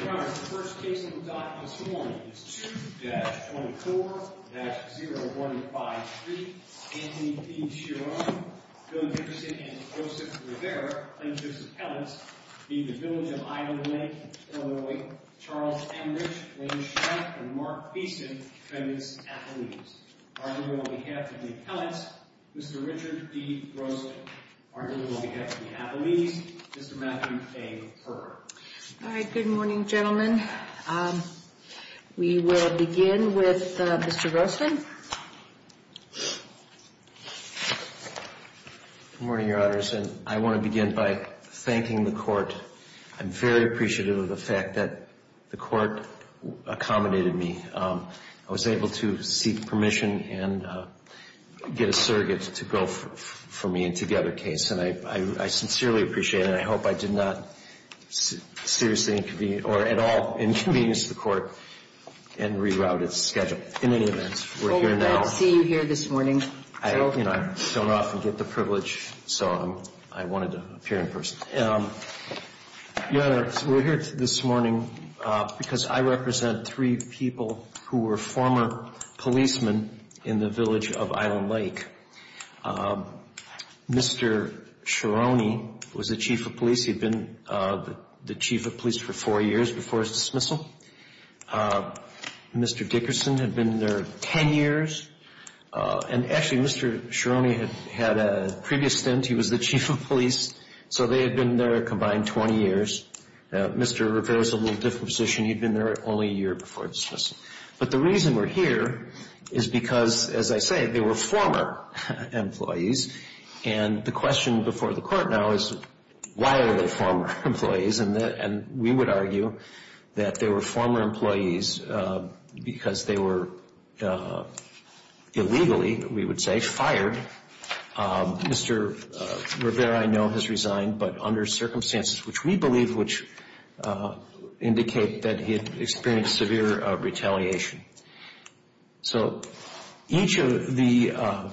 The first case of the document this morning is 2-24-0153. Anthony P. Sharrone, Bill Dickerson, and Joseph Rivera claim to be his appellants. They are from the Village of Island Lake, Illinois. Charles Ambridge, William Shryock, and Mark Beeson claim to be his appellants. On behalf of the appellants, Mr. Richard D. Grosso. On behalf of the appellees, Mr. Matthew A. Perl. All right, good morning, gentlemen. We will begin with Mr. Rosten. Good morning, Your Honors, and I want to begin by thanking the Court. I'm very appreciative of the fact that the Court accommodated me. I was able to seek permission and get a surrogate to go for me into the other case, and I sincerely appreciate it. I hope I did not seriously inconvenience or at all inconvenience the Court and reroute its schedule. In any event, we're here now. Well, we're glad to see you here this morning. I don't often get the privilege, so I wanted to appear in person. Your Honor, we're here this morning because I represent three people who were former policemen in the Village of Island Lake. Mr. Chironi was the Chief of Police. He'd been the Chief of Police for four years before his dismissal. Mr. Dickerson had been there ten years. And actually, Mr. Chironi had a previous stint. He was the Chief of Police. So they had been there a combined 20 years. Mr. Rivera's in a little different position. He'd been there only a year before his dismissal. But the reason we're here is because, as I say, they were former employees. And the question before the Court now is, why are they former employees? And we would argue that they were former employees because they were illegally, we would say, fired. Mr. Rivera, I know, has resigned, but under circumstances which we believe, which indicate that he had experienced severe retaliation. So each of the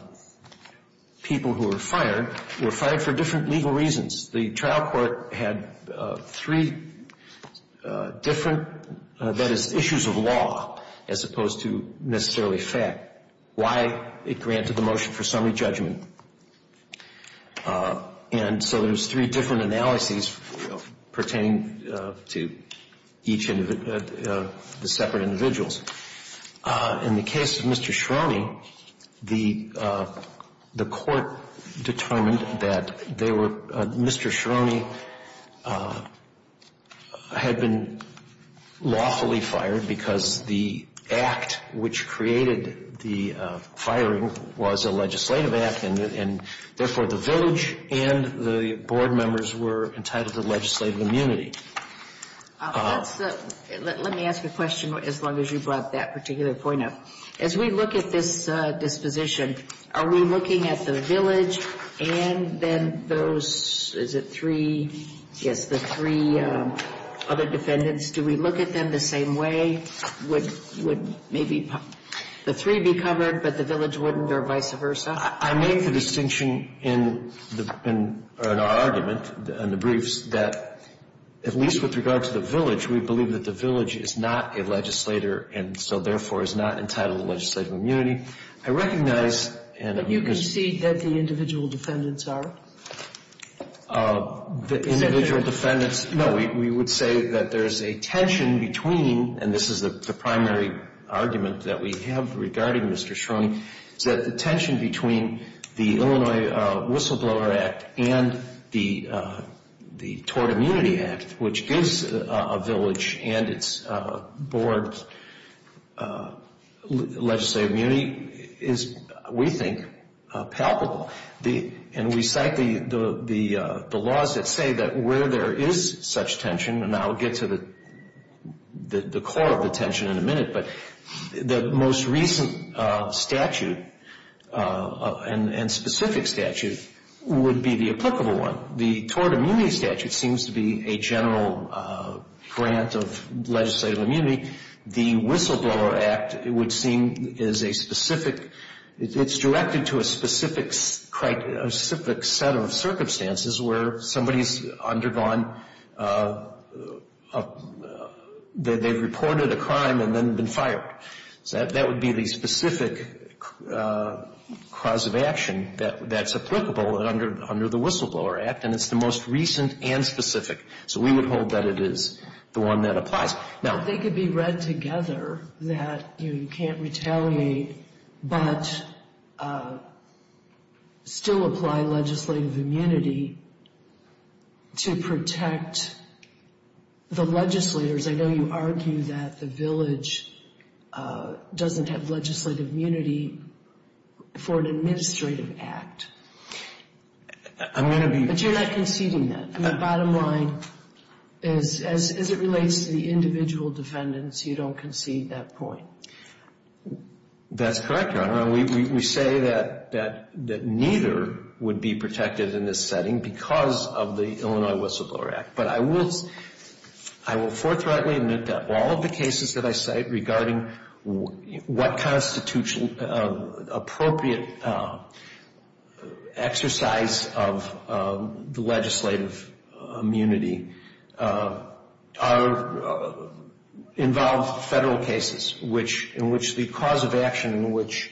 people who were fired were fired for different legal reasons. The trial court had three different, that is, issues of law, as opposed to necessarily fact. Why it granted the motion for summary judgment. And so there's three different analyses pertaining to each of the separate individuals. In the case of Mr. Chironi, the Court determined that they were, Mr. Chironi had been lawfully fired because the act which created the firing was a legislative act. And therefore, the village and the board members were entitled to legislative immunity. Let me ask a question as long as you brought that particular point up. As we look at this disposition, are we looking at the village and then those, is it three, yes, the three other defendants? Do we look at them the same way? Would maybe the three be covered but the village wouldn't or vice versa? I made the distinction in our argument in the briefs that at least with regard to the village, we believe that the village is not a legislator and so therefore is not entitled to legislative immunity. I recognize and But you concede that the individual defendants are? The individual defendants, no, we would say that there's a tension between, and this is the primary argument that we have regarding Mr. Chironi, is that the tension between the Illinois Whistleblower Act and the Tort Immunity Act, which is a village and its board's legislative immunity, is we think palpable. And we cite the laws that say that where there is such tension, and I'll get to the core of the tension in a minute, but the most recent statute and specific statute would be the applicable one. The Tort Immunity Statute seems to be a general grant of legislative immunity. The Whistleblower Act would seem as a specific, it's directed to a specific set of circumstances where somebody's undergone, they've reported a crime and then been fired. So that would be the specific cause of action that's applicable under the Whistleblower Act, and it's the most recent and specific. So we would hold that it is the one that applies. Now, they could be read together that you can't retaliate, but still apply legislative immunity to protect the legislators. I know you argue that the village doesn't have legislative immunity for an administrative act. I'm going to be. But you're not conceding that. The bottom line is as it relates to the individual defendants, you don't concede that point. That's correct, Your Honor. We say that neither would be protected in this setting because of the Illinois Whistleblower Act. But I will forthrightly admit that all of the cases that I cite regarding what constitutional appropriate exercise of the legislative immunity involve federal cases in which the cause of action in which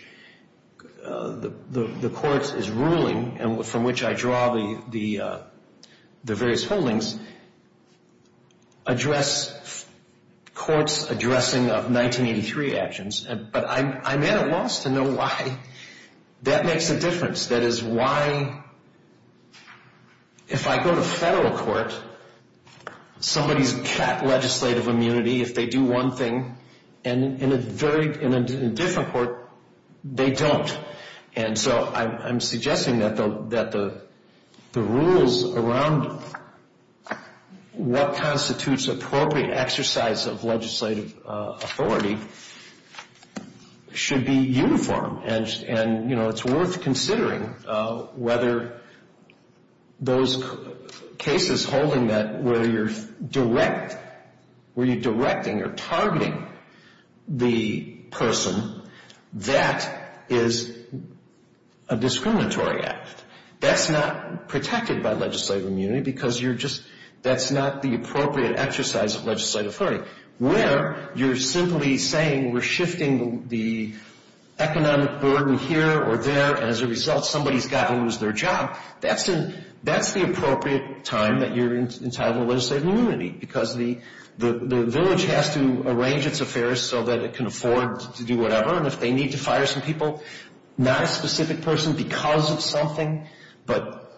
the court is ruling and from which I draw the various holdings address courts addressing of 1983 actions. But I'm at a loss to know why that makes a difference. That is why if I go to federal court, somebody's got legislative immunity if they do one thing. And in a different court, they don't. And so I'm suggesting that the rules around what constitutes appropriate exercise of legislative authority should be uniform. And, you know, it's worth considering whether those cases holding that where you're direct, where you're directing or targeting the person, that is a discriminatory act. That's not protected by legislative immunity because you're just, that's not the appropriate exercise of legislative authority. But where you're simply saying we're shifting the economic burden here or there and as a result somebody's got to lose their job, that's the appropriate time that you're entitled to legislative immunity because the village has to arrange its affairs so that it can afford to do whatever. And if they need to fire some people, not a specific person because of something, but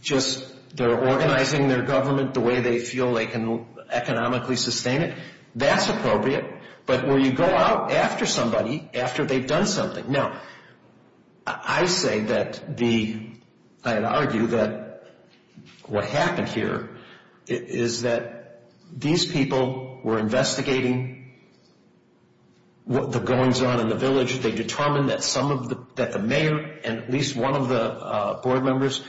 just they're organizing their government the way they feel they can economically sustain it, that's appropriate. But where you go out after somebody, after they've done something. Now, I say that the, I'd argue that what happened here is that these people were investigating what the goings-on in the village. They determined that some of the, that the mayor and at least one of the board members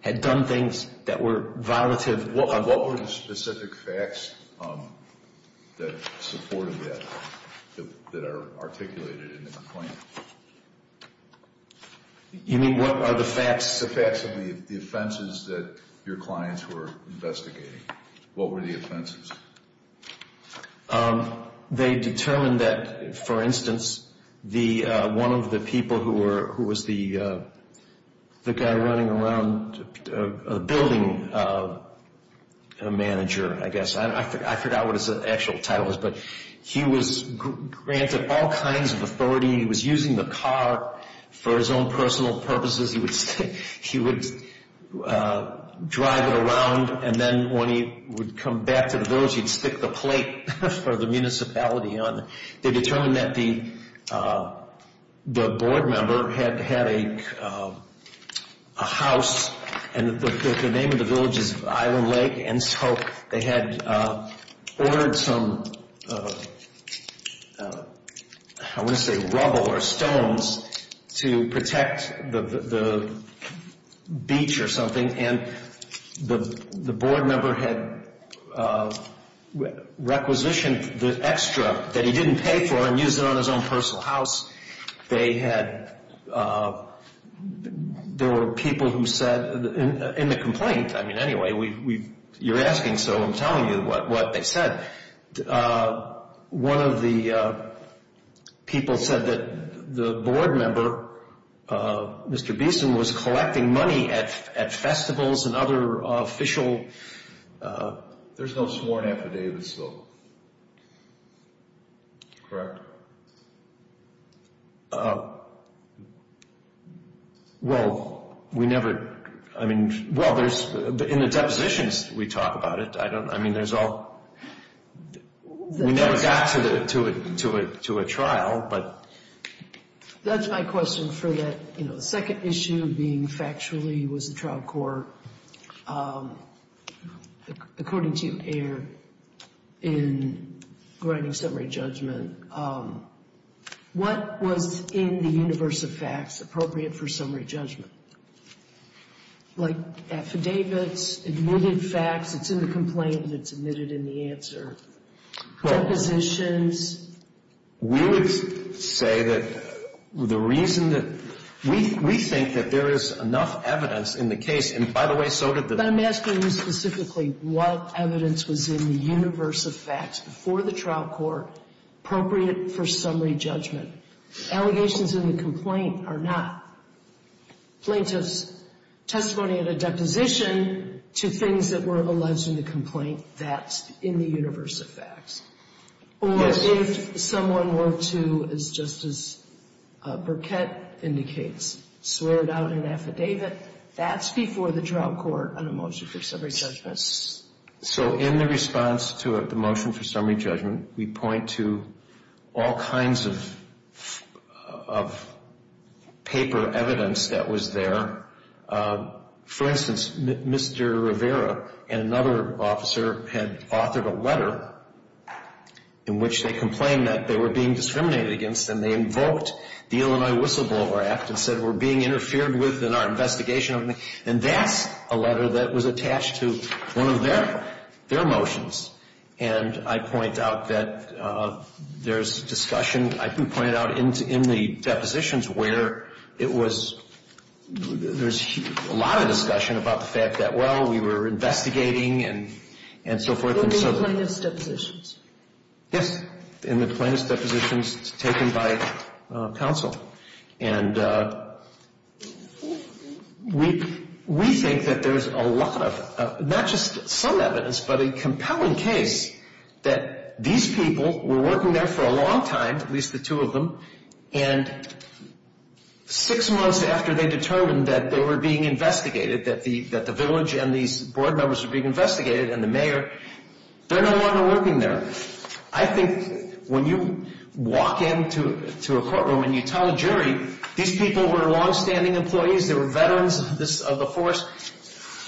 had done things that were violative. What were the specific facts that supported that, that are articulated in the complaint? You mean what are the facts? The facts of the offenses that your clients were investigating. What were the offenses? They determined that, for instance, one of the people who was the guy running around, a building manager, I guess. I forgot what his actual title was, but he was granted all kinds of authority. He was using the car for his own personal purposes. He would drive it around, and then when he would come back to the village, he'd stick the plate for the municipality on it. They determined that the board member had a house, and the name of the village is Island Lake. They had ordered some, I want to say rubble or stones to protect the beach or something, and the board member had requisitioned the extra that he didn't pay for and used it on his own personal house. There were people who said, in the complaint, I mean, anyway, you're asking, so I'm telling you what they said. One of the people said that the board member, Mr. Beeson, was collecting money at festivals and other official... There's no sworn affidavits, though, correct? Well, we never, I mean, well, in the depositions, we talk about it. I mean, there's all, we never got to a trial, but... That's my question for that second issue being factually was the trial court. According to Ayer, in writing summary judgment, what was in the universe of facts appropriate for summary judgment? Like affidavits, admitted facts, it's in the complaint, it's admitted in the answer. Depositions... We would say that the reason that, we think that there is enough evidence in the case, and by the way, so did the... But I'm asking you specifically what evidence was in the universe of facts before the trial court appropriate for summary judgment. Allegations in the complaint are not. Plaintiffs' testimony at a deposition to things that were alleged in the complaint, that's in the universe of facts. Or if someone were to, as Justice Burkett indicates, swear it out in an affidavit, that's before the trial court on a motion for summary judgment. So in the response to the motion for summary judgment, we point to all kinds of paper evidence that was there. For instance, Mr. Rivera and another officer had authored a letter in which they complained that they were being discriminated against. And they invoked the Illinois Whistleblower Act and said, we're being interfered with in our investigation. And that's a letter that was attached to one of their motions. And I point out that there's discussion. I pointed out in the depositions where it was, there's a lot of discussion about the fact that, well, we were investigating and so forth. In the plaintiff's depositions? Yes, in the plaintiff's depositions taken by counsel. And we think that there's a lot of, not just some evidence, but a compelling case that these people were working there for a long time, at least the two of them. And six months after they determined that they were being investigated, that the village and these board members were being investigated and the mayor, they're no longer working there. I think when you walk into a courtroom and you tell a jury, these people were longstanding employees. They were veterans of the force.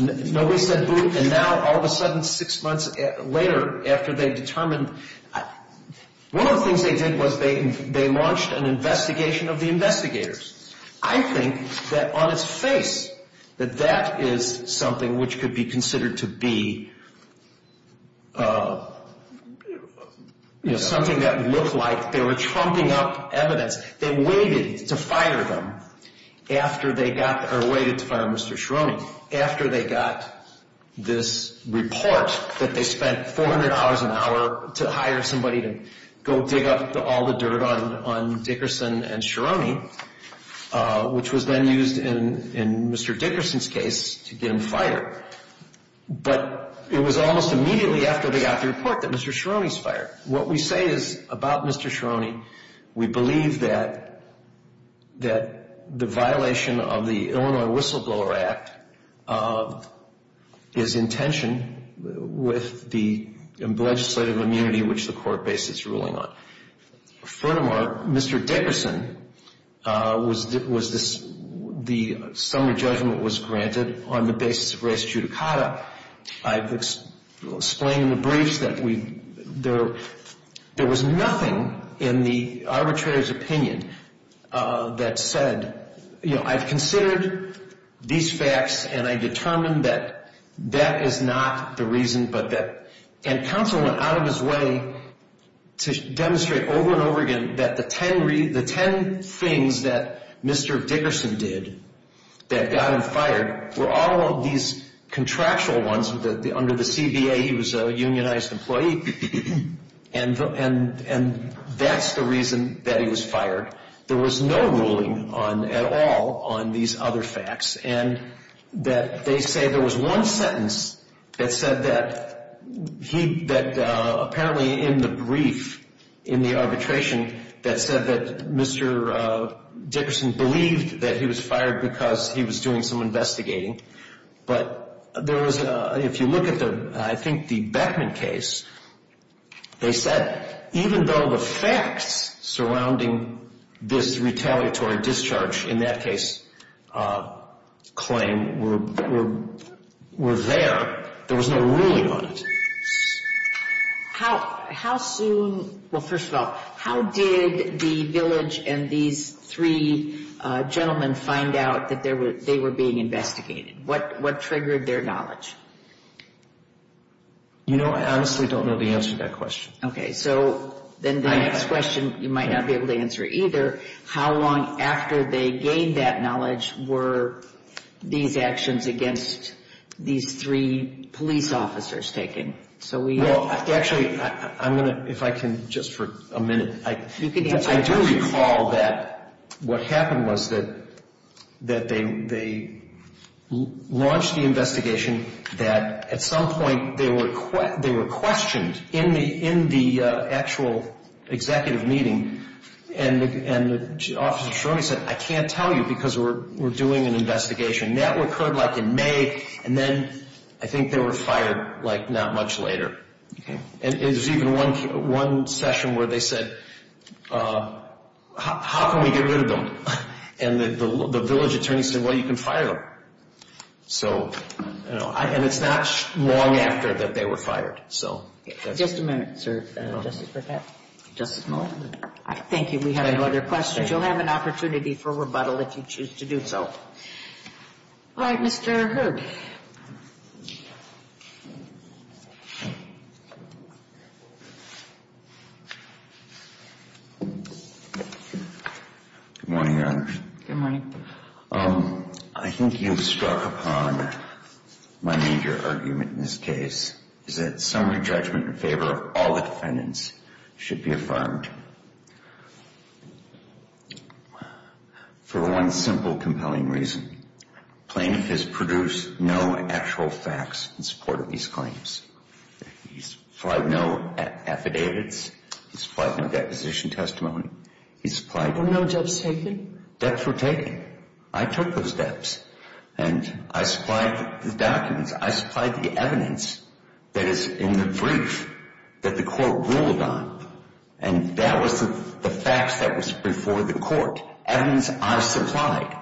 Nobody said boot. And now, all of a sudden, six months later, after they determined, one of the things they did was they launched an investigation of the investigators. I think that on its face that that is something which could be considered to be something that looked like they were trumping up evidence. They waited to fire them after they got, or waited to fire Mr. Ciarone, after they got this report that they spent $400 an hour to hire somebody to go dig up all the dirt on Dickerson and Ciarone, which was then used in Mr. Dickerson's case to get him fired. But it was almost immediately after they got the report that Mr. Ciarone was fired. What we say is, about Mr. Ciarone, we believe that the violation of the Illinois Whistleblower Act is in tension with the legislative immunity which the court based its ruling on. Furthermore, Mr. Dickerson, the summary judgment was granted on the basis of res judicata. I've explained in the briefs that there was nothing in the arbitrator's opinion that said, you know, I've considered these facts and I've determined that that is not the reason. And counsel went out of his way to demonstrate over and over again that the 10 things that Mr. Dickerson did that got him fired were all of these contractual ones under the CBA. He was a unionized employee and that's the reason that he was fired. There was no ruling on, at all, on these other facts. And that they say there was one sentence that said that he, that apparently in the brief, in the arbitration, that said that Mr. Dickerson believed that he was fired because he was doing some investigating. But there was a, if you look at the, I think the Beckman case, they said even though the facts surrounding this retaliatory discharge in that case claim were there, there was no ruling on it. How soon, well first of all, how did the village and these three gentlemen find out that they were being investigated? What triggered their knowledge? You know, I honestly don't know the answer to that question. Okay, so then the next question you might not be able to answer either. How long after they gained that knowledge were these actions against these three police officers taken? Well, actually, I'm going to, if I can, just for a minute, I do recall that what happened was that they launched the investigation that at some point they were questioned in the actual executive meeting and the officer said, I can't tell you because we're doing an investigation. That occurred like in May and then I think they were fired like not much later. Okay. And there's even one session where they said, how can we get rid of them? And the village attorney said, well, you can fire them. So, you know, and it's not long after that they were fired. So just a minute, sir. Just a moment. Thank you. We have no other questions. You'll have an opportunity for rebuttal if you choose to do so. All right, Mr. Hood. Good morning, Your Honor. Good morning. I think you've struck upon my major argument in this case is that summary judgment in favor of all the defendants should be affirmed. For one simple, compelling reason. Plaintiff has produced no actual facts in support of these claims. He's filed no affidavits. He's filed no deposition testimony. He's filed no debts taken. Debts were taken. I took those debts. And I supplied the documents. I supplied the evidence that is in the brief that the court ruled on. And that was the facts that was before the court. Evidence I supplied.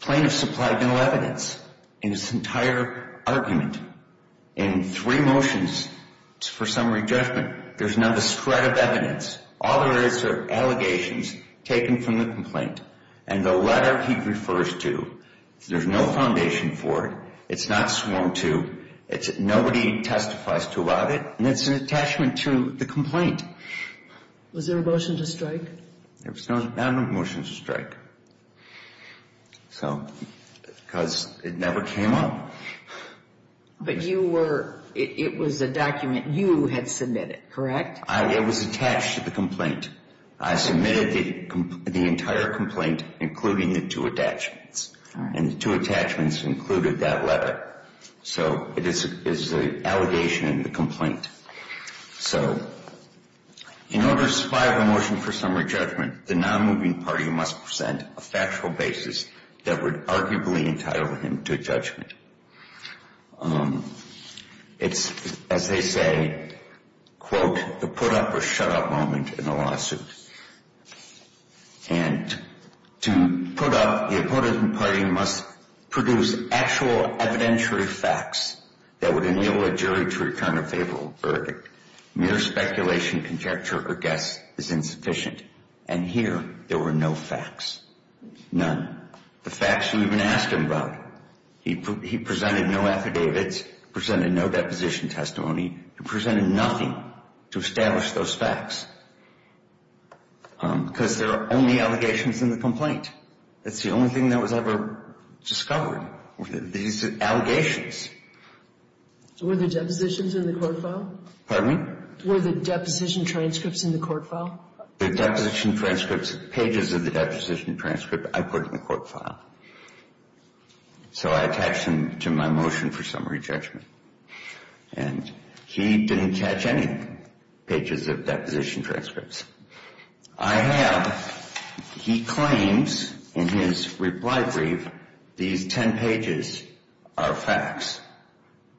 Plaintiff supplied no evidence in this entire argument. In three motions for summary judgment, there's not a shred of evidence. All there is are allegations taken from the complaint. And the letter he refers to, there's no foundation for it. It's not sworn to. Nobody testifies to about it. And it's an attachment to the complaint. Was there a motion to strike? There was not a motion to strike. So, because it never came up. But you were, it was a document you had submitted, correct? It was attached to the complaint. I submitted the entire complaint, including the two attachments. And the two attachments included that letter. So, it is an allegation in the complaint. So, in order to supply the motion for summary judgment, the non-moving party must present a factual basis that would arguably entitle him to judgment. It's, as they say, quote, the put-up-or-shut-up moment in a lawsuit. And to put up, the opponent party must produce actual evidentiary facts that would enable a jury to return a favorable verdict. Mere speculation, conjecture, or guess is insufficient. And here, there were no facts. None. The facts you even asked him about. He presented no affidavits. He presented no deposition testimony. He presented nothing to establish those facts. Because there are only allegations in the complaint. It's the only thing that was ever discovered were these allegations. Were the depositions in the court file? Pardon me? Were the deposition transcripts in the court file? The deposition transcripts, pages of the deposition transcript, I put in the court file. So, I attached them to my motion for summary judgment. And he didn't catch any pages of deposition transcripts. I have, he claims in his reply brief, these 10 pages are facts.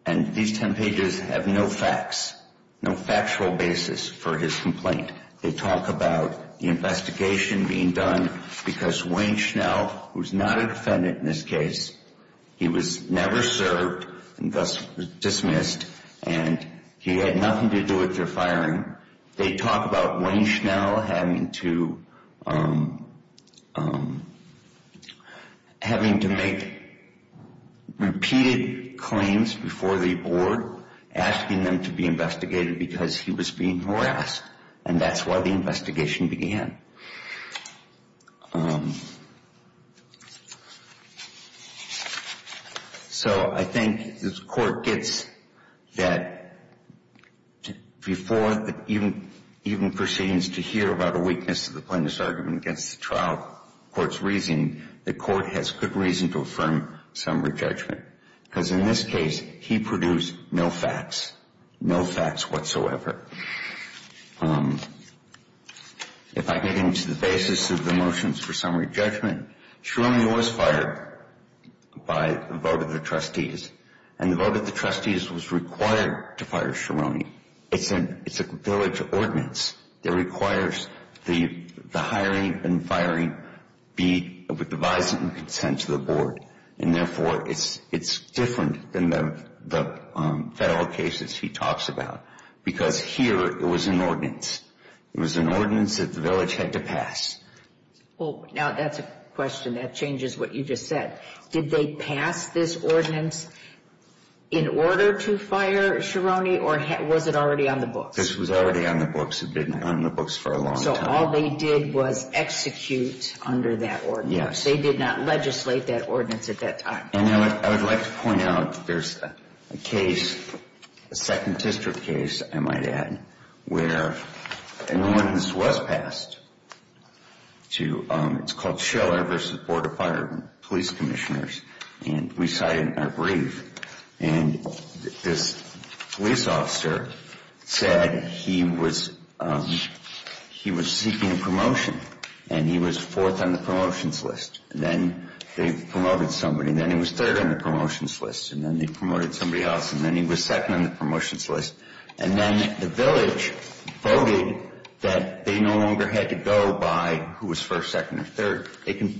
And these 10 pages have no facts, no factual basis for his complaint. They talk about the investigation being done because Wayne Schnell, who's not a defendant in this case, he was never served and thus dismissed, and he had nothing to do with their firing. They talk about Wayne Schnell having to make repeated claims before the board, asking them to be investigated because he was being harassed. And that's why the investigation began. So, I think the court gets that before even proceedings to hear about a weakness of the plaintiff's argument against the trial, the court's reasoning, the court has good reason to affirm summary judgment. Because in this case, he produced no facts. No facts whatsoever. If I get into the basis of the motions for summary judgment, Schironi was fired by the vote of the trustees. And the vote of the trustees was required to fire Schironi. It's a village ordinance. It requires the hiring and firing be devised in consent to the board. And therefore, it's different than the federal cases he talks about. Because here, it was an ordinance. It was an ordinance that the village had to pass. Now, that's a question that changes what you just said. Did they pass this ordinance in order to fire Schironi, or was it already on the books? This was already on the books. It had been on the books for a long time. So, all they did was execute under that ordinance. They did not legislate that ordinance at that time. And I would like to point out, there's a case, a second district case, I might add, where an ordinance was passed. It's called Schiller v. Board of Fire and Police Commissioners. And we cited in our brief. And this police officer said he was seeking a promotion. And he was fourth on the promotions list. And then they promoted somebody. And then he was third on the promotions list. And then they promoted somebody else. And then he was second on the promotions list. And then the village voted that they no longer had to go by who was first, second, or third. They can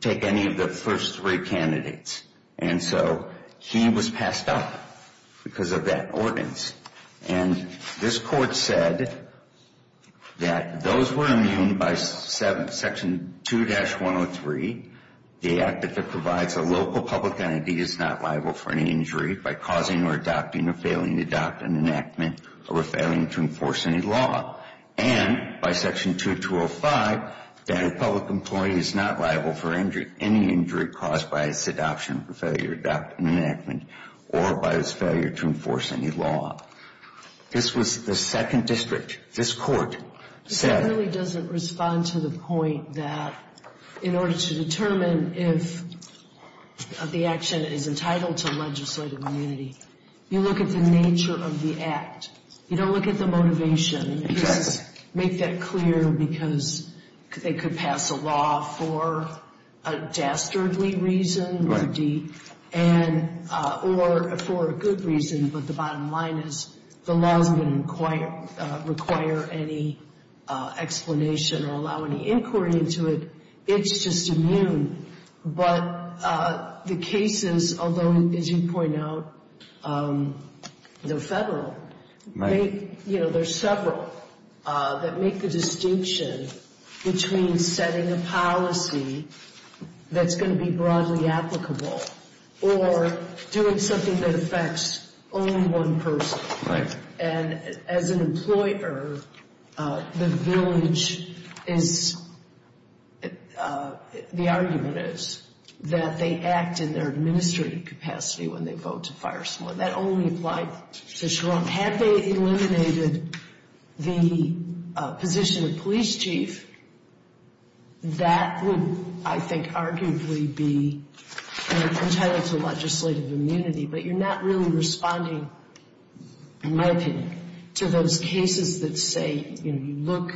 take any of the first three candidates. And so, he was passed up because of that ordinance. And this court said that those were immune by Section 2-103, the act that provides a local public entity is not liable for any injury by causing or adopting or failing to adopt an enactment or failing to enforce any law. And by Section 2-205, that a public employee is not liable for any injury caused by his adoption or failure to adopt an enactment or by his failure to enforce any law. This was the second district. This court said. It really doesn't respond to the point that in order to determine if the action is entitled to legislative immunity, you look at the nature of the act. You don't look at the motivation. Make that clear because they could pass a law for a dastardly reason or for a good reason. But the bottom line is the law doesn't require any explanation or allow any inquiry into it. It's just immune. But the cases, although, as you point out, they're federal, there's several that make the distinction between setting a policy that's going to be broadly applicable or doing something that affects only one person. Right. And as an employer, the village is, the argument is that they act in their administrative capacity when they vote to fire someone. That only applied to Sherrong. Had they eliminated the position of police chief, that would, I think, arguably be entitled to legislative immunity. But you're not really responding, in my opinion, to those cases that say you look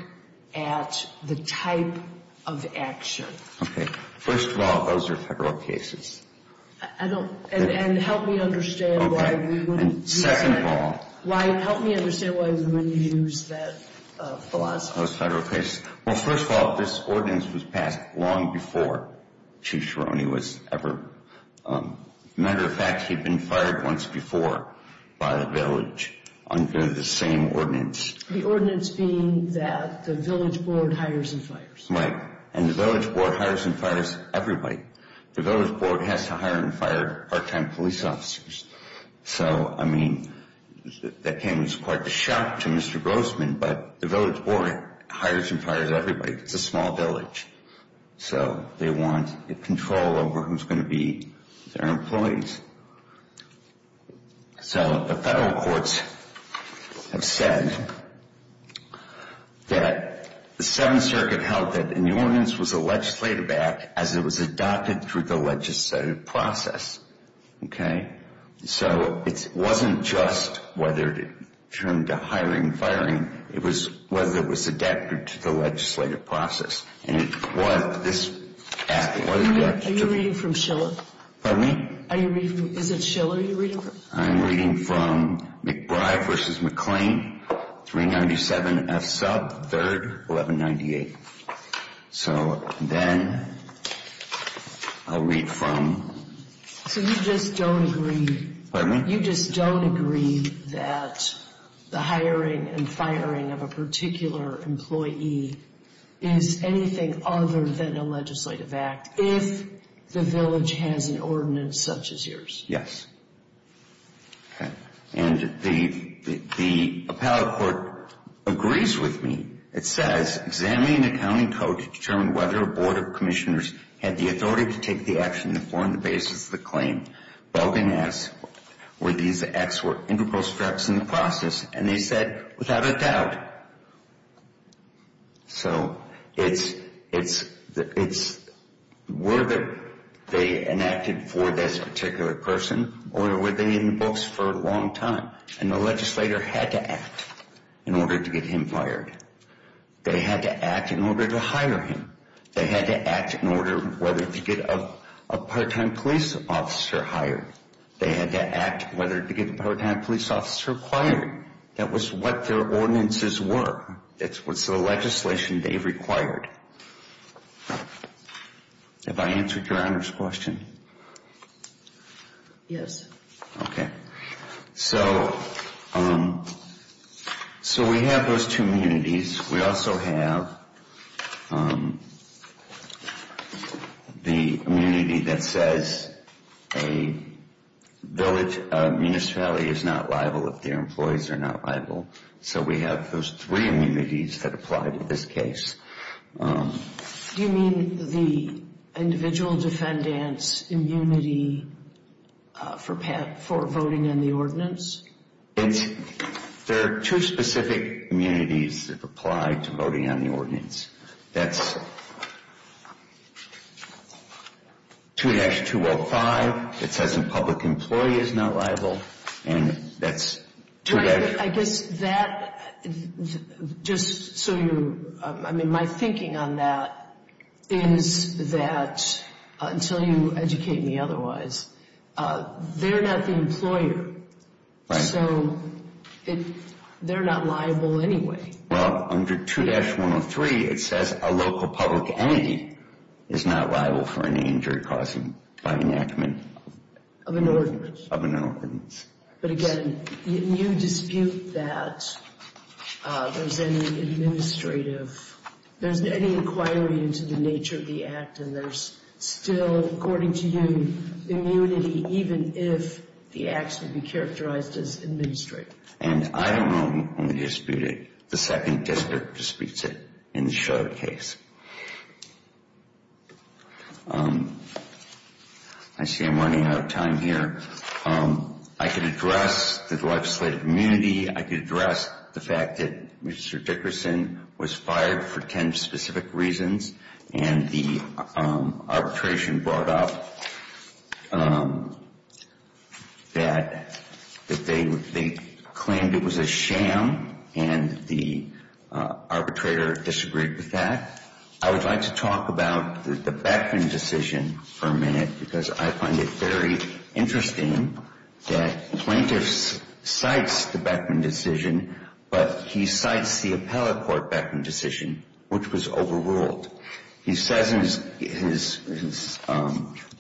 at the type of action. Okay. First of all, those are federal cases. I don't. And help me understand why you wouldn't use that. Second of all. Ryan, help me understand why you wouldn't use that philosophy. Those federal cases. Well, first of all, this ordinance was passed long before Chief Sherrong was ever. Matter of fact, he'd been fired once before by the village under the same ordinance. The ordinance being that the village board hires and fires. Right. And the village board hires and fires everybody. The village board has to hire and fire part-time police officers. So, I mean, that came as quite a shock to Mr. Grossman. But the village board hires and fires everybody. It's a small village. So they want control over who's going to be their employees. So the federal courts have said that the Seventh Circuit held that the ordinance was a legislative act as it was adopted through the legislative process. Okay. So it wasn't just whether it turned to hiring and firing. It was whether it was adapted to the legislative process. And it was this act. Are you reading from Schiller? Pardon me? Is it Schiller you're reading from? I'm reading from McBride v. McClain, 397 F. Sub. 3rd, 1198. So then I'll read from. So you just don't agree. The hiring of a particular employee is anything other than a legislative act if the village has an ordinance such as yours. Yes. Okay. And the appellate court agrees with me. It says, examine the accounting code to determine whether a board of commissioners had the authority to take the action to form the basis of the claim. Belden asks, were these acts were integral steps in the process? And they said, without a doubt. So it's whether they enacted for this particular person or were they in the books for a long time. And the legislator had to act in order to get him fired. They had to act in order to hire him. They had to act in order whether to get a part-time police officer hired. They had to act whether to get a part-time police officer acquired. That was what their ordinances were. It's the legislation they required. Have I answered Your Honor's question? Yes. Okay. So we have those two immunities. We also have the immunity that says a village municipality is not liable if their employees are not liable. So we have those three immunities that apply to this case. Do you mean the individual defendant's immunity for voting on the ordinance? There are two specific immunities that apply to voting on the ordinance. That's 2-205. It says a public employee is not liable. And that's 2-205. I guess that, just so you, I mean my thinking on that is that until you educate me otherwise, they're not the employer. Right. So they're not liable anyway. Well, under 2-103 it says a local public entity is not liable for any injury caused by enactment of an ordinance. But again, you dispute that there's any administrative, there's any inquiry into the nature of the act, and there's still, according to you, immunity even if the acts would be characterized as administrative. And I don't know who disputed it. The Second District disputes it in the Shutter case. I see I'm running out of time here. I could address the legislative immunity. I could address the fact that Mr. Dickerson was fired for 10 specific reasons, and the arbitration brought up that they claimed it was a sham, and the arbitrator disagreed with that. I would like to talk about the Beckman decision for a minute, because I find it very interesting that the plaintiff cites the Beckman decision, but he cites the appellate court Beckman decision, which was overruled. He says in his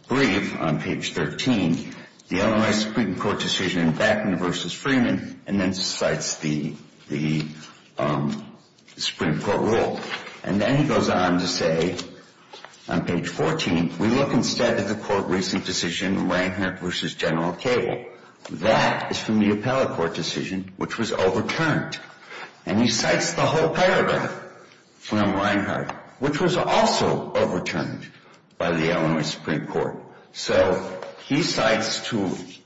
brief on page 13, the Illinois Supreme Court decision, Beckman v. Freeman, and then cites the Supreme Court rule. And then he goes on to say on page 14, we look instead at the court recent decision, Reinhart v. General Cable. That is from the appellate court decision, which was overturned. And he cites the whole paragraph from Reinhart, which was also overturned by the Illinois Supreme Court. So he cites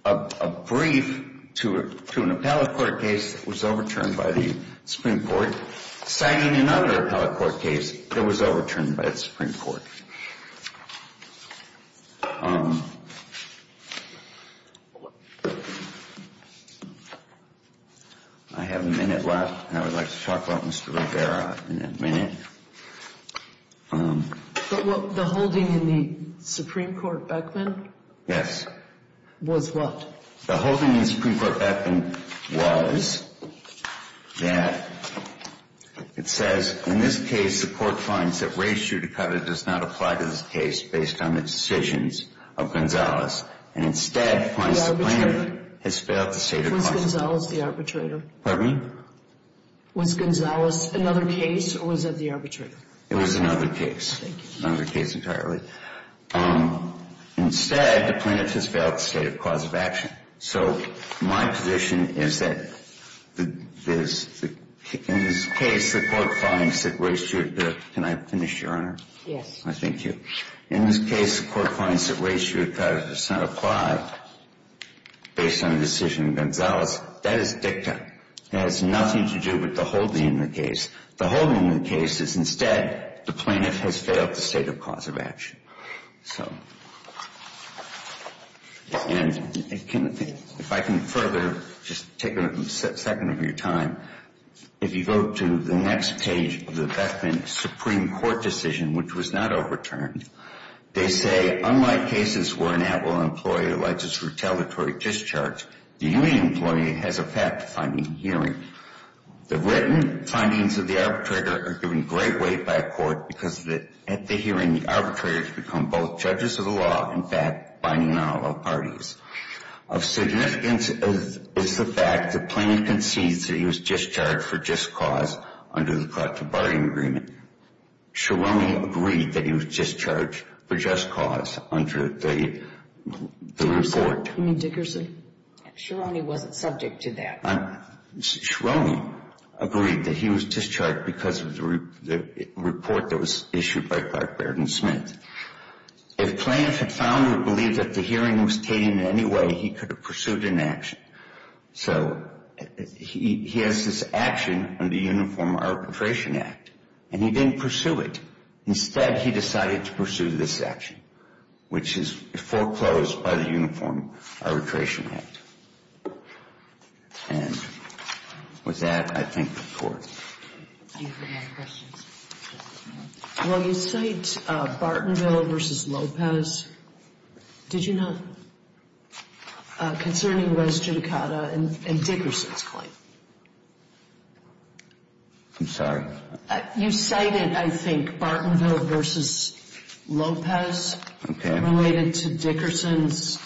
a brief to an appellate court case that was overturned by the Supreme Court, citing another appellate court case that was overturned by the Supreme Court. I have a minute left, and I would like to talk about Mr. Rivera in a minute. But the holding in the Supreme Court Beckman? Was what? The holding in the Supreme Court Beckman was that it says, in this case the court finds that race judicata does not apply to this case based on the decisions of Gonzales, and instead finds the plaintiff has failed to state a cause. Was Gonzales the arbitrator? Pardon me? Was Gonzales another case, or was it the arbitrator? It was another case. Another case entirely. Instead, the plaintiff has failed to state a cause of action. So my position is that in this case the court finds that race judicata, can I finish, Your Honor? Yes. Thank you. In this case the court finds that race judicata does not apply based on the decision of Gonzales. That is dicta. It has nothing to do with the holding in the case. The holding in the case is instead the plaintiff has failed to state a cause of action. So, and if I can further just take a second of your time, if you go to the next page of the Beckman Supreme Court decision, which was not overturned, They say, unlike cases where an at-will employee alleges retaliatory discharge, the union employee has a fact-finding hearing. The written findings of the arbitrator are given great weight by a court because at the hearing the arbitrator has become both judges of the law, in fact, binding on all parties. Of significance is the fact the plaintiff concedes that he was discharged for just cause under the collective bargaining agreement. Sheroni agreed that he was discharged for just cause under the report. You mean Dickerson? Sheroni wasn't subject to that. Sheroni agreed that he was discharged because of the report that was issued by Clark Baird and Smith. If the plaintiff had found or believed that the hearing was taken in any way, he could have pursued an action. So, he has this action under the Uniform Arbitration Act, and he didn't pursue it. Instead, he decided to pursue this action, which is foreclosed by the Uniform Arbitration Act. And with that, I thank the court. Thank you for your questions. Well, you cite Bartonville v. Lopez. Did you not? Concerning res judicata and Dickerson's claim. I'm sorry? You cited, I think, Bartonville v. Lopez. Okay. Related to Dickerson's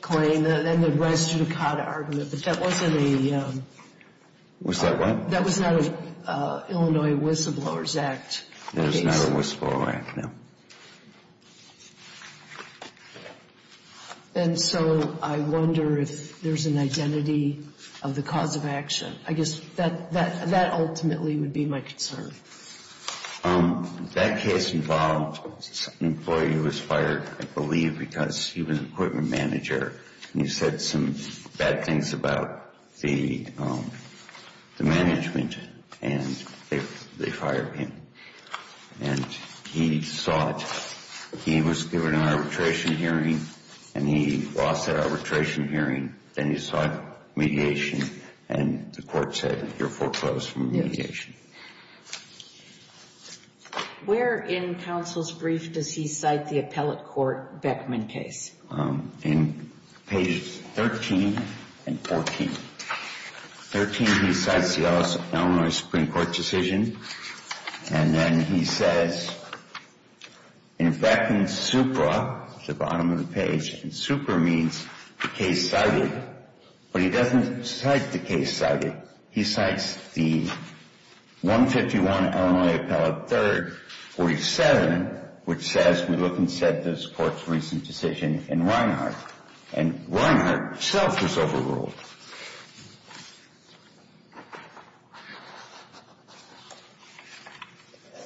claim. And the res judicata argument. But that wasn't a... Was that what? That was not an Illinois whistleblower's act case. That was not a whistleblower act, no. And so, I wonder if there's an identity of the cause of action. I guess that ultimately would be my concern. That case involved an employee who was fired, I believe, because he was an equipment manager. And he said some bad things about the management, and they fired him. And he sought, he was given an arbitration hearing, and he lost that arbitration hearing. Then he sought mediation, and the court said, you're foreclosed from mediation. Where in counsel's brief does he cite the appellate court Beckman case? In pages 13 and 14. 13, he cites the Illinois Supreme Court decision. And then he says, in Beckman's supra, the bottom of the page, and supra means the case cited. But he doesn't cite the case cited. He cites the 151 Illinois Appellate 3rd 47, which says, we look and set this court's recent decision in Reinhart. And Reinhart himself was overruled.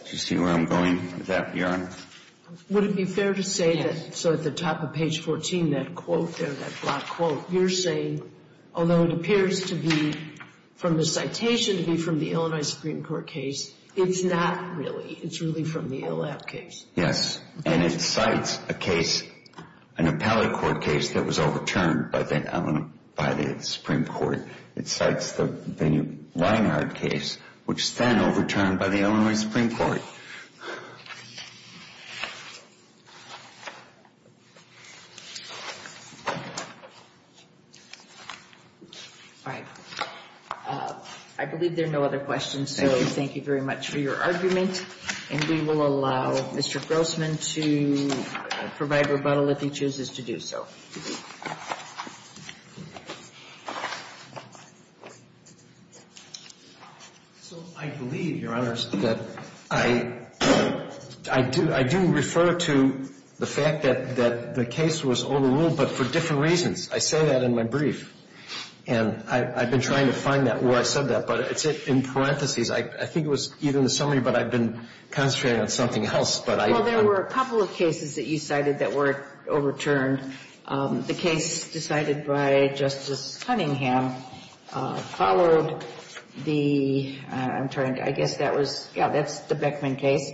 Do you see where I'm going with that, Your Honor? Would it be fair to say that, so at the top of page 14, that quote there, that black quote, you're saying, although it appears to be from the citation, to be from the Illinois Supreme Court case, it's not really. It's really from the Ill App case. Yes, and it cites a case, an appellate court case that was overturned by the Supreme Court. It cites the Reinhart case, which is then overturned by the Illinois Supreme Court. All right. I believe there are no other questions, so thank you very much for your argument. And we will allow Mr. Grossman to provide rebuttal if he chooses to do so. So I believe, Your Honors, that I do refer to the fact that the case was overruled, but for different reasons. I say that in my brief. And I've been trying to find that where I said that, but it's in parentheses. I think it was either in the summary, but I've been concentrating on something else. Well, there were a couple of cases that you cited that were overturned. The case decided by Justice Cunningham followed the, I'm trying to, I guess that was, yeah, that's the Beckman case.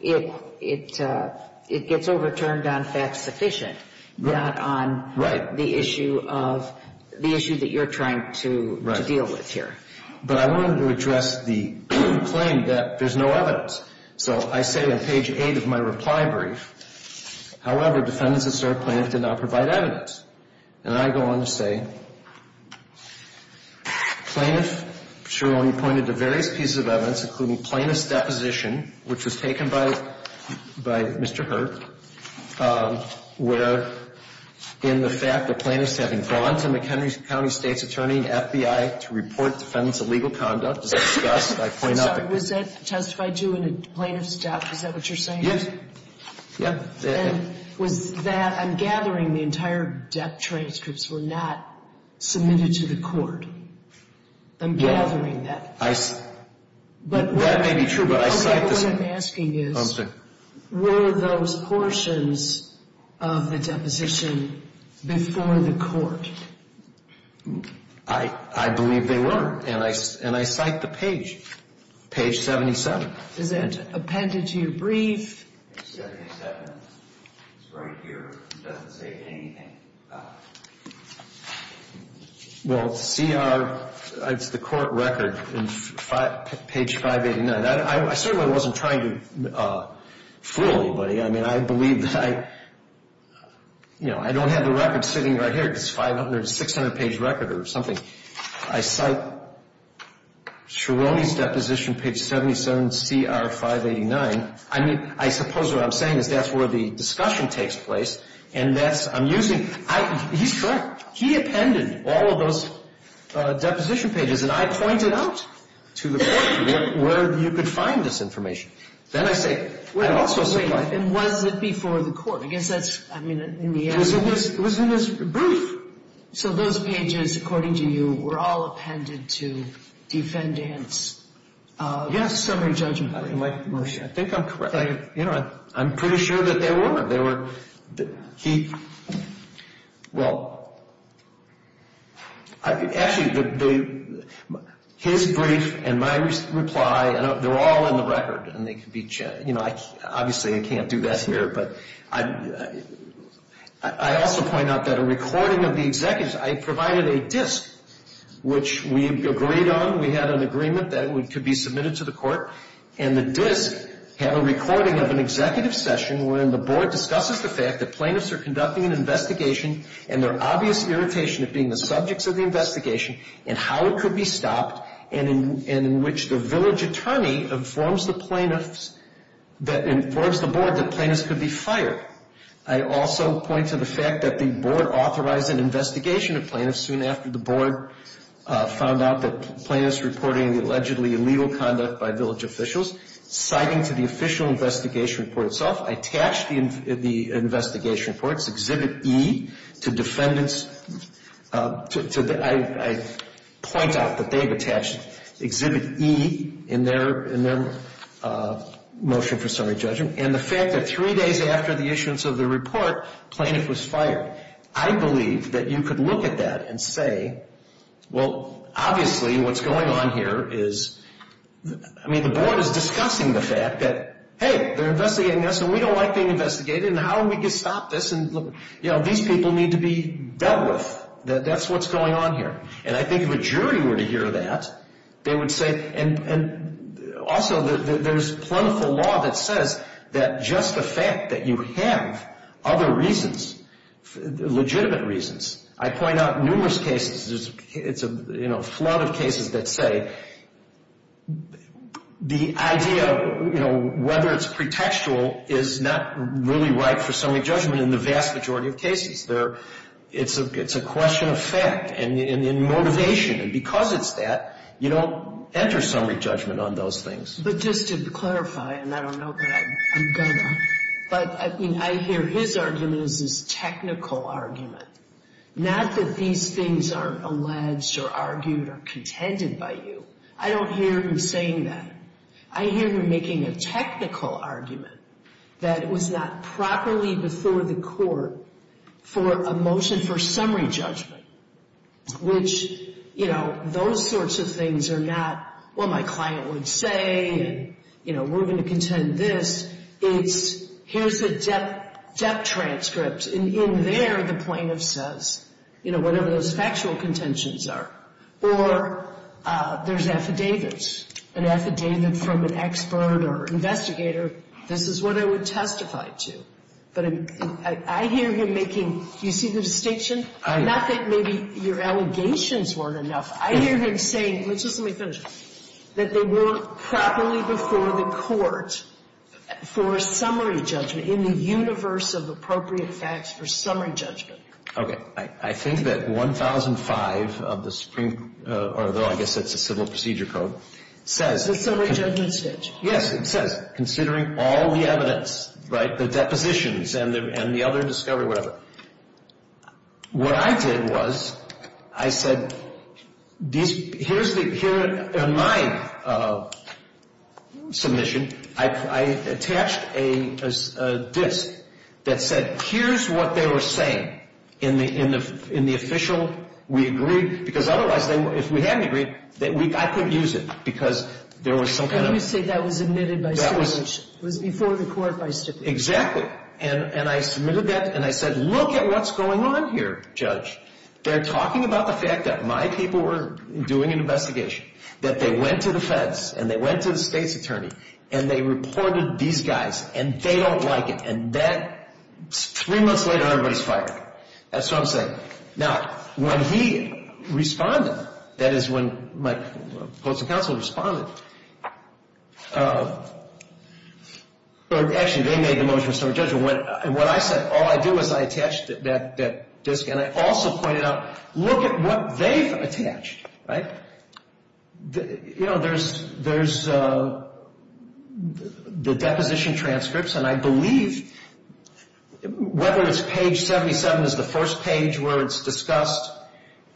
Because if it's overturned on facts sufficient, it gets overturned on facts sufficient, not on the issue of, the issue that you're trying to deal with here. But I wanted to address the claim that there's no evidence. So I say on page 8 of my reply brief, however, defendants that served plaintiff did not provide evidence. And I go on to say, plaintiff surely pointed to various pieces of evidence, including plaintiff's deposition, which was taken by Mr. Hurd, where in the fact that plaintiffs having gone to McHenry County State's attorney and FBI to report defendants' illegal conduct, as I discussed, I point out that Was that testified to in a plaintiff's death? Is that what you're saying? Yes. Yeah. And was that, I'm gathering the entire death transcripts were not submitted to the court. I'm gathering that. I, that may be true, but I cite this What I'm asking is, were those portions of the deposition before the court? I believe they were, and I cite the page, page 77. Is that appended to your brief? Page 77, it's right here. It doesn't say anything about it. Well, CR, it's the court record, page 589. I certainly wasn't trying to fool anybody. I mean, I believe that I, you know, I don't have the record sitting right here. It's a 500, 600-page record or something. I cite Cerrone's deposition, page 77, CR 589. I mean, I suppose what I'm saying is that's where the discussion takes place, and that's, I'm using He's correct. He appended all of those deposition pages, and I pointed out to the court where you could find this information. Then I say, I also cite And was it before the court? I guess that's, I mean, in the end It was in his brief. So those pages, according to you, were all appended to defendant's summary judgment? I think I'm correct. You know, I'm pretty sure that they were. They were. He, well, actually, his brief and my reply, they're all in the record. And they could be, you know, obviously I can't do that here. But I also point out that a recording of the executives, I provided a disk, which we agreed on. We had an agreement that it could be submitted to the court. And the disk had a recording of an executive session where the board discusses the fact that plaintiffs are conducting an investigation and their obvious irritation of being the subjects of the investigation and how it could be stopped and in which the village attorney informs the plaintiffs, informs the board that plaintiffs could be fired. I also point to the fact that the board authorized an investigation of plaintiffs soon after the board found out that the plaintiffs were reporting allegedly illegal conduct by village officials. Citing to the official investigation report itself, I attached the investigation reports, Exhibit E, to defendants. I point out that they've attached Exhibit E in their motion for summary judgment. And the fact that three days after the issuance of the report, the plaintiff was fired. I believe that you could look at that and say, well, obviously what's going on here is, I mean, the board is discussing the fact that, hey, they're investigating this and we don't like being investigated and how are we going to stop this and, you know, these people need to be dealt with. That's what's going on here. And I think if a jury were to hear that, they would say, and also there's plentiful law that says that just the fact that you have other reasons, legitimate reasons. I point out numerous cases. It's a flood of cases that say the idea of whether it's pretextual is not really right for summary judgment in the vast majority of cases. It's a question of fact and motivation. And because it's that, you don't enter summary judgment on those things. But just to clarify, and I don't know that I'm going to, but I mean, I hear his argument is this technical argument. Not that these things aren't alleged or argued or contended by you. I don't hear him saying that. I hear him making a technical argument that was not properly before the court for a motion for summary judgment, which, you know, those sorts of things are not what my client would say and, you know, we're going to contend this. It's here's a debt transcript, and in there the plaintiff says, you know, whatever those factual contentions are. Or there's affidavits, an affidavit from an expert or investigator, this is what I would testify to. But I hear him making, do you see the distinction? Not that maybe your allegations weren't enough. I hear him saying, let's just let me finish, that they weren't properly before the court for a summary judgment, in the universe of appropriate facts for summary judgment. Okay. I think that 1005 of the supreme, although I guess it's a civil procedure code, says. It's a summary judgment statute. Yes, it says, considering all the evidence, right, the depositions and the other discovery, whatever. What I did was, I said, here's the, in my submission, I attached a disk that said, here's what they were saying in the official, we agreed. Because otherwise, if we hadn't agreed, I couldn't use it because there was some kind of. And you say that was admitted by stipulation. That was. It was before the court by stipulation. Exactly. And I submitted that, and I said, look at what's going on here, judge. They're talking about the fact that my people were doing an investigation. That they went to the feds, and they went to the state's attorney, and they reported these guys, and they don't like it. And that, three months later, everybody's fired. That's what I'm saying. Now, when he responded, that is, when my post and counsel responded, actually, they made the motion of summary judgment. What I said, all I did was, I attached that disk, and I also pointed out, look at what they've attached, right? You know, there's the deposition transcripts, and I believe, whether it's page 77 is the first page where it's discussed,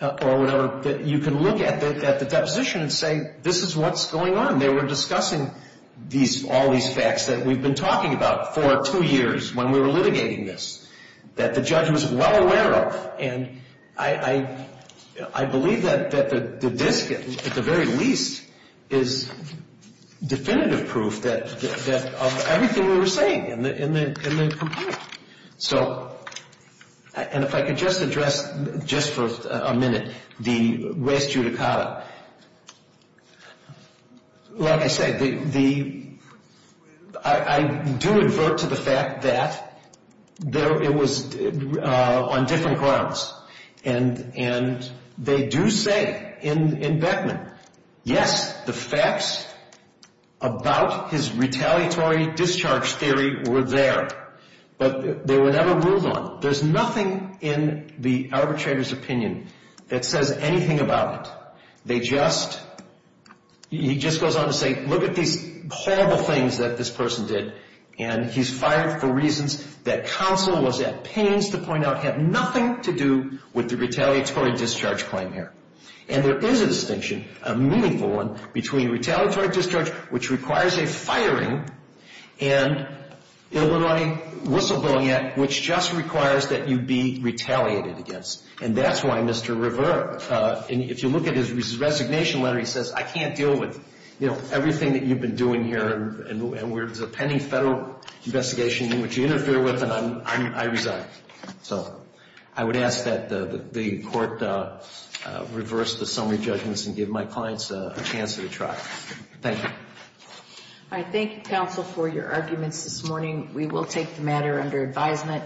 or whatever, you can look at the deposition and say, this is what's going on. They were discussing all these facts that we've been talking about for two years when we were litigating this, that the judge was well aware of. And I believe that the disk, at the very least, is definitive proof of everything we were saying in the complaint. So, and if I could just address, just for a minute, the res judicata. Like I said, the, I do advert to the fact that it was on different grounds. And they do say, in Beckman, yes, the facts about his retaliatory discharge theory were there. But they were never ruled on. There's nothing in the arbitrator's opinion that says anything about it. They just, he just goes on to say, look at these horrible things that this person did, and he's fired for reasons that counsel was at pains to point out have nothing to do with the retaliatory discharge claim here. And there is a distinction, a meaningful one, between retaliatory discharge, which requires a firing, and Illinois Whistleblowing Act, which just requires that you be retaliated against. And that's why Mr. Rivera, if you look at his resignation letter, he says, I can't deal with, you know, everything that you've been doing here, and there's a pending federal investigation in which you interfere with, and I resign. So I would ask that the court reverse the summary judgments and give my clients a chance to try. Thank you. All right, thank you, counsel, for your arguments this morning. We will take the matter under advisement.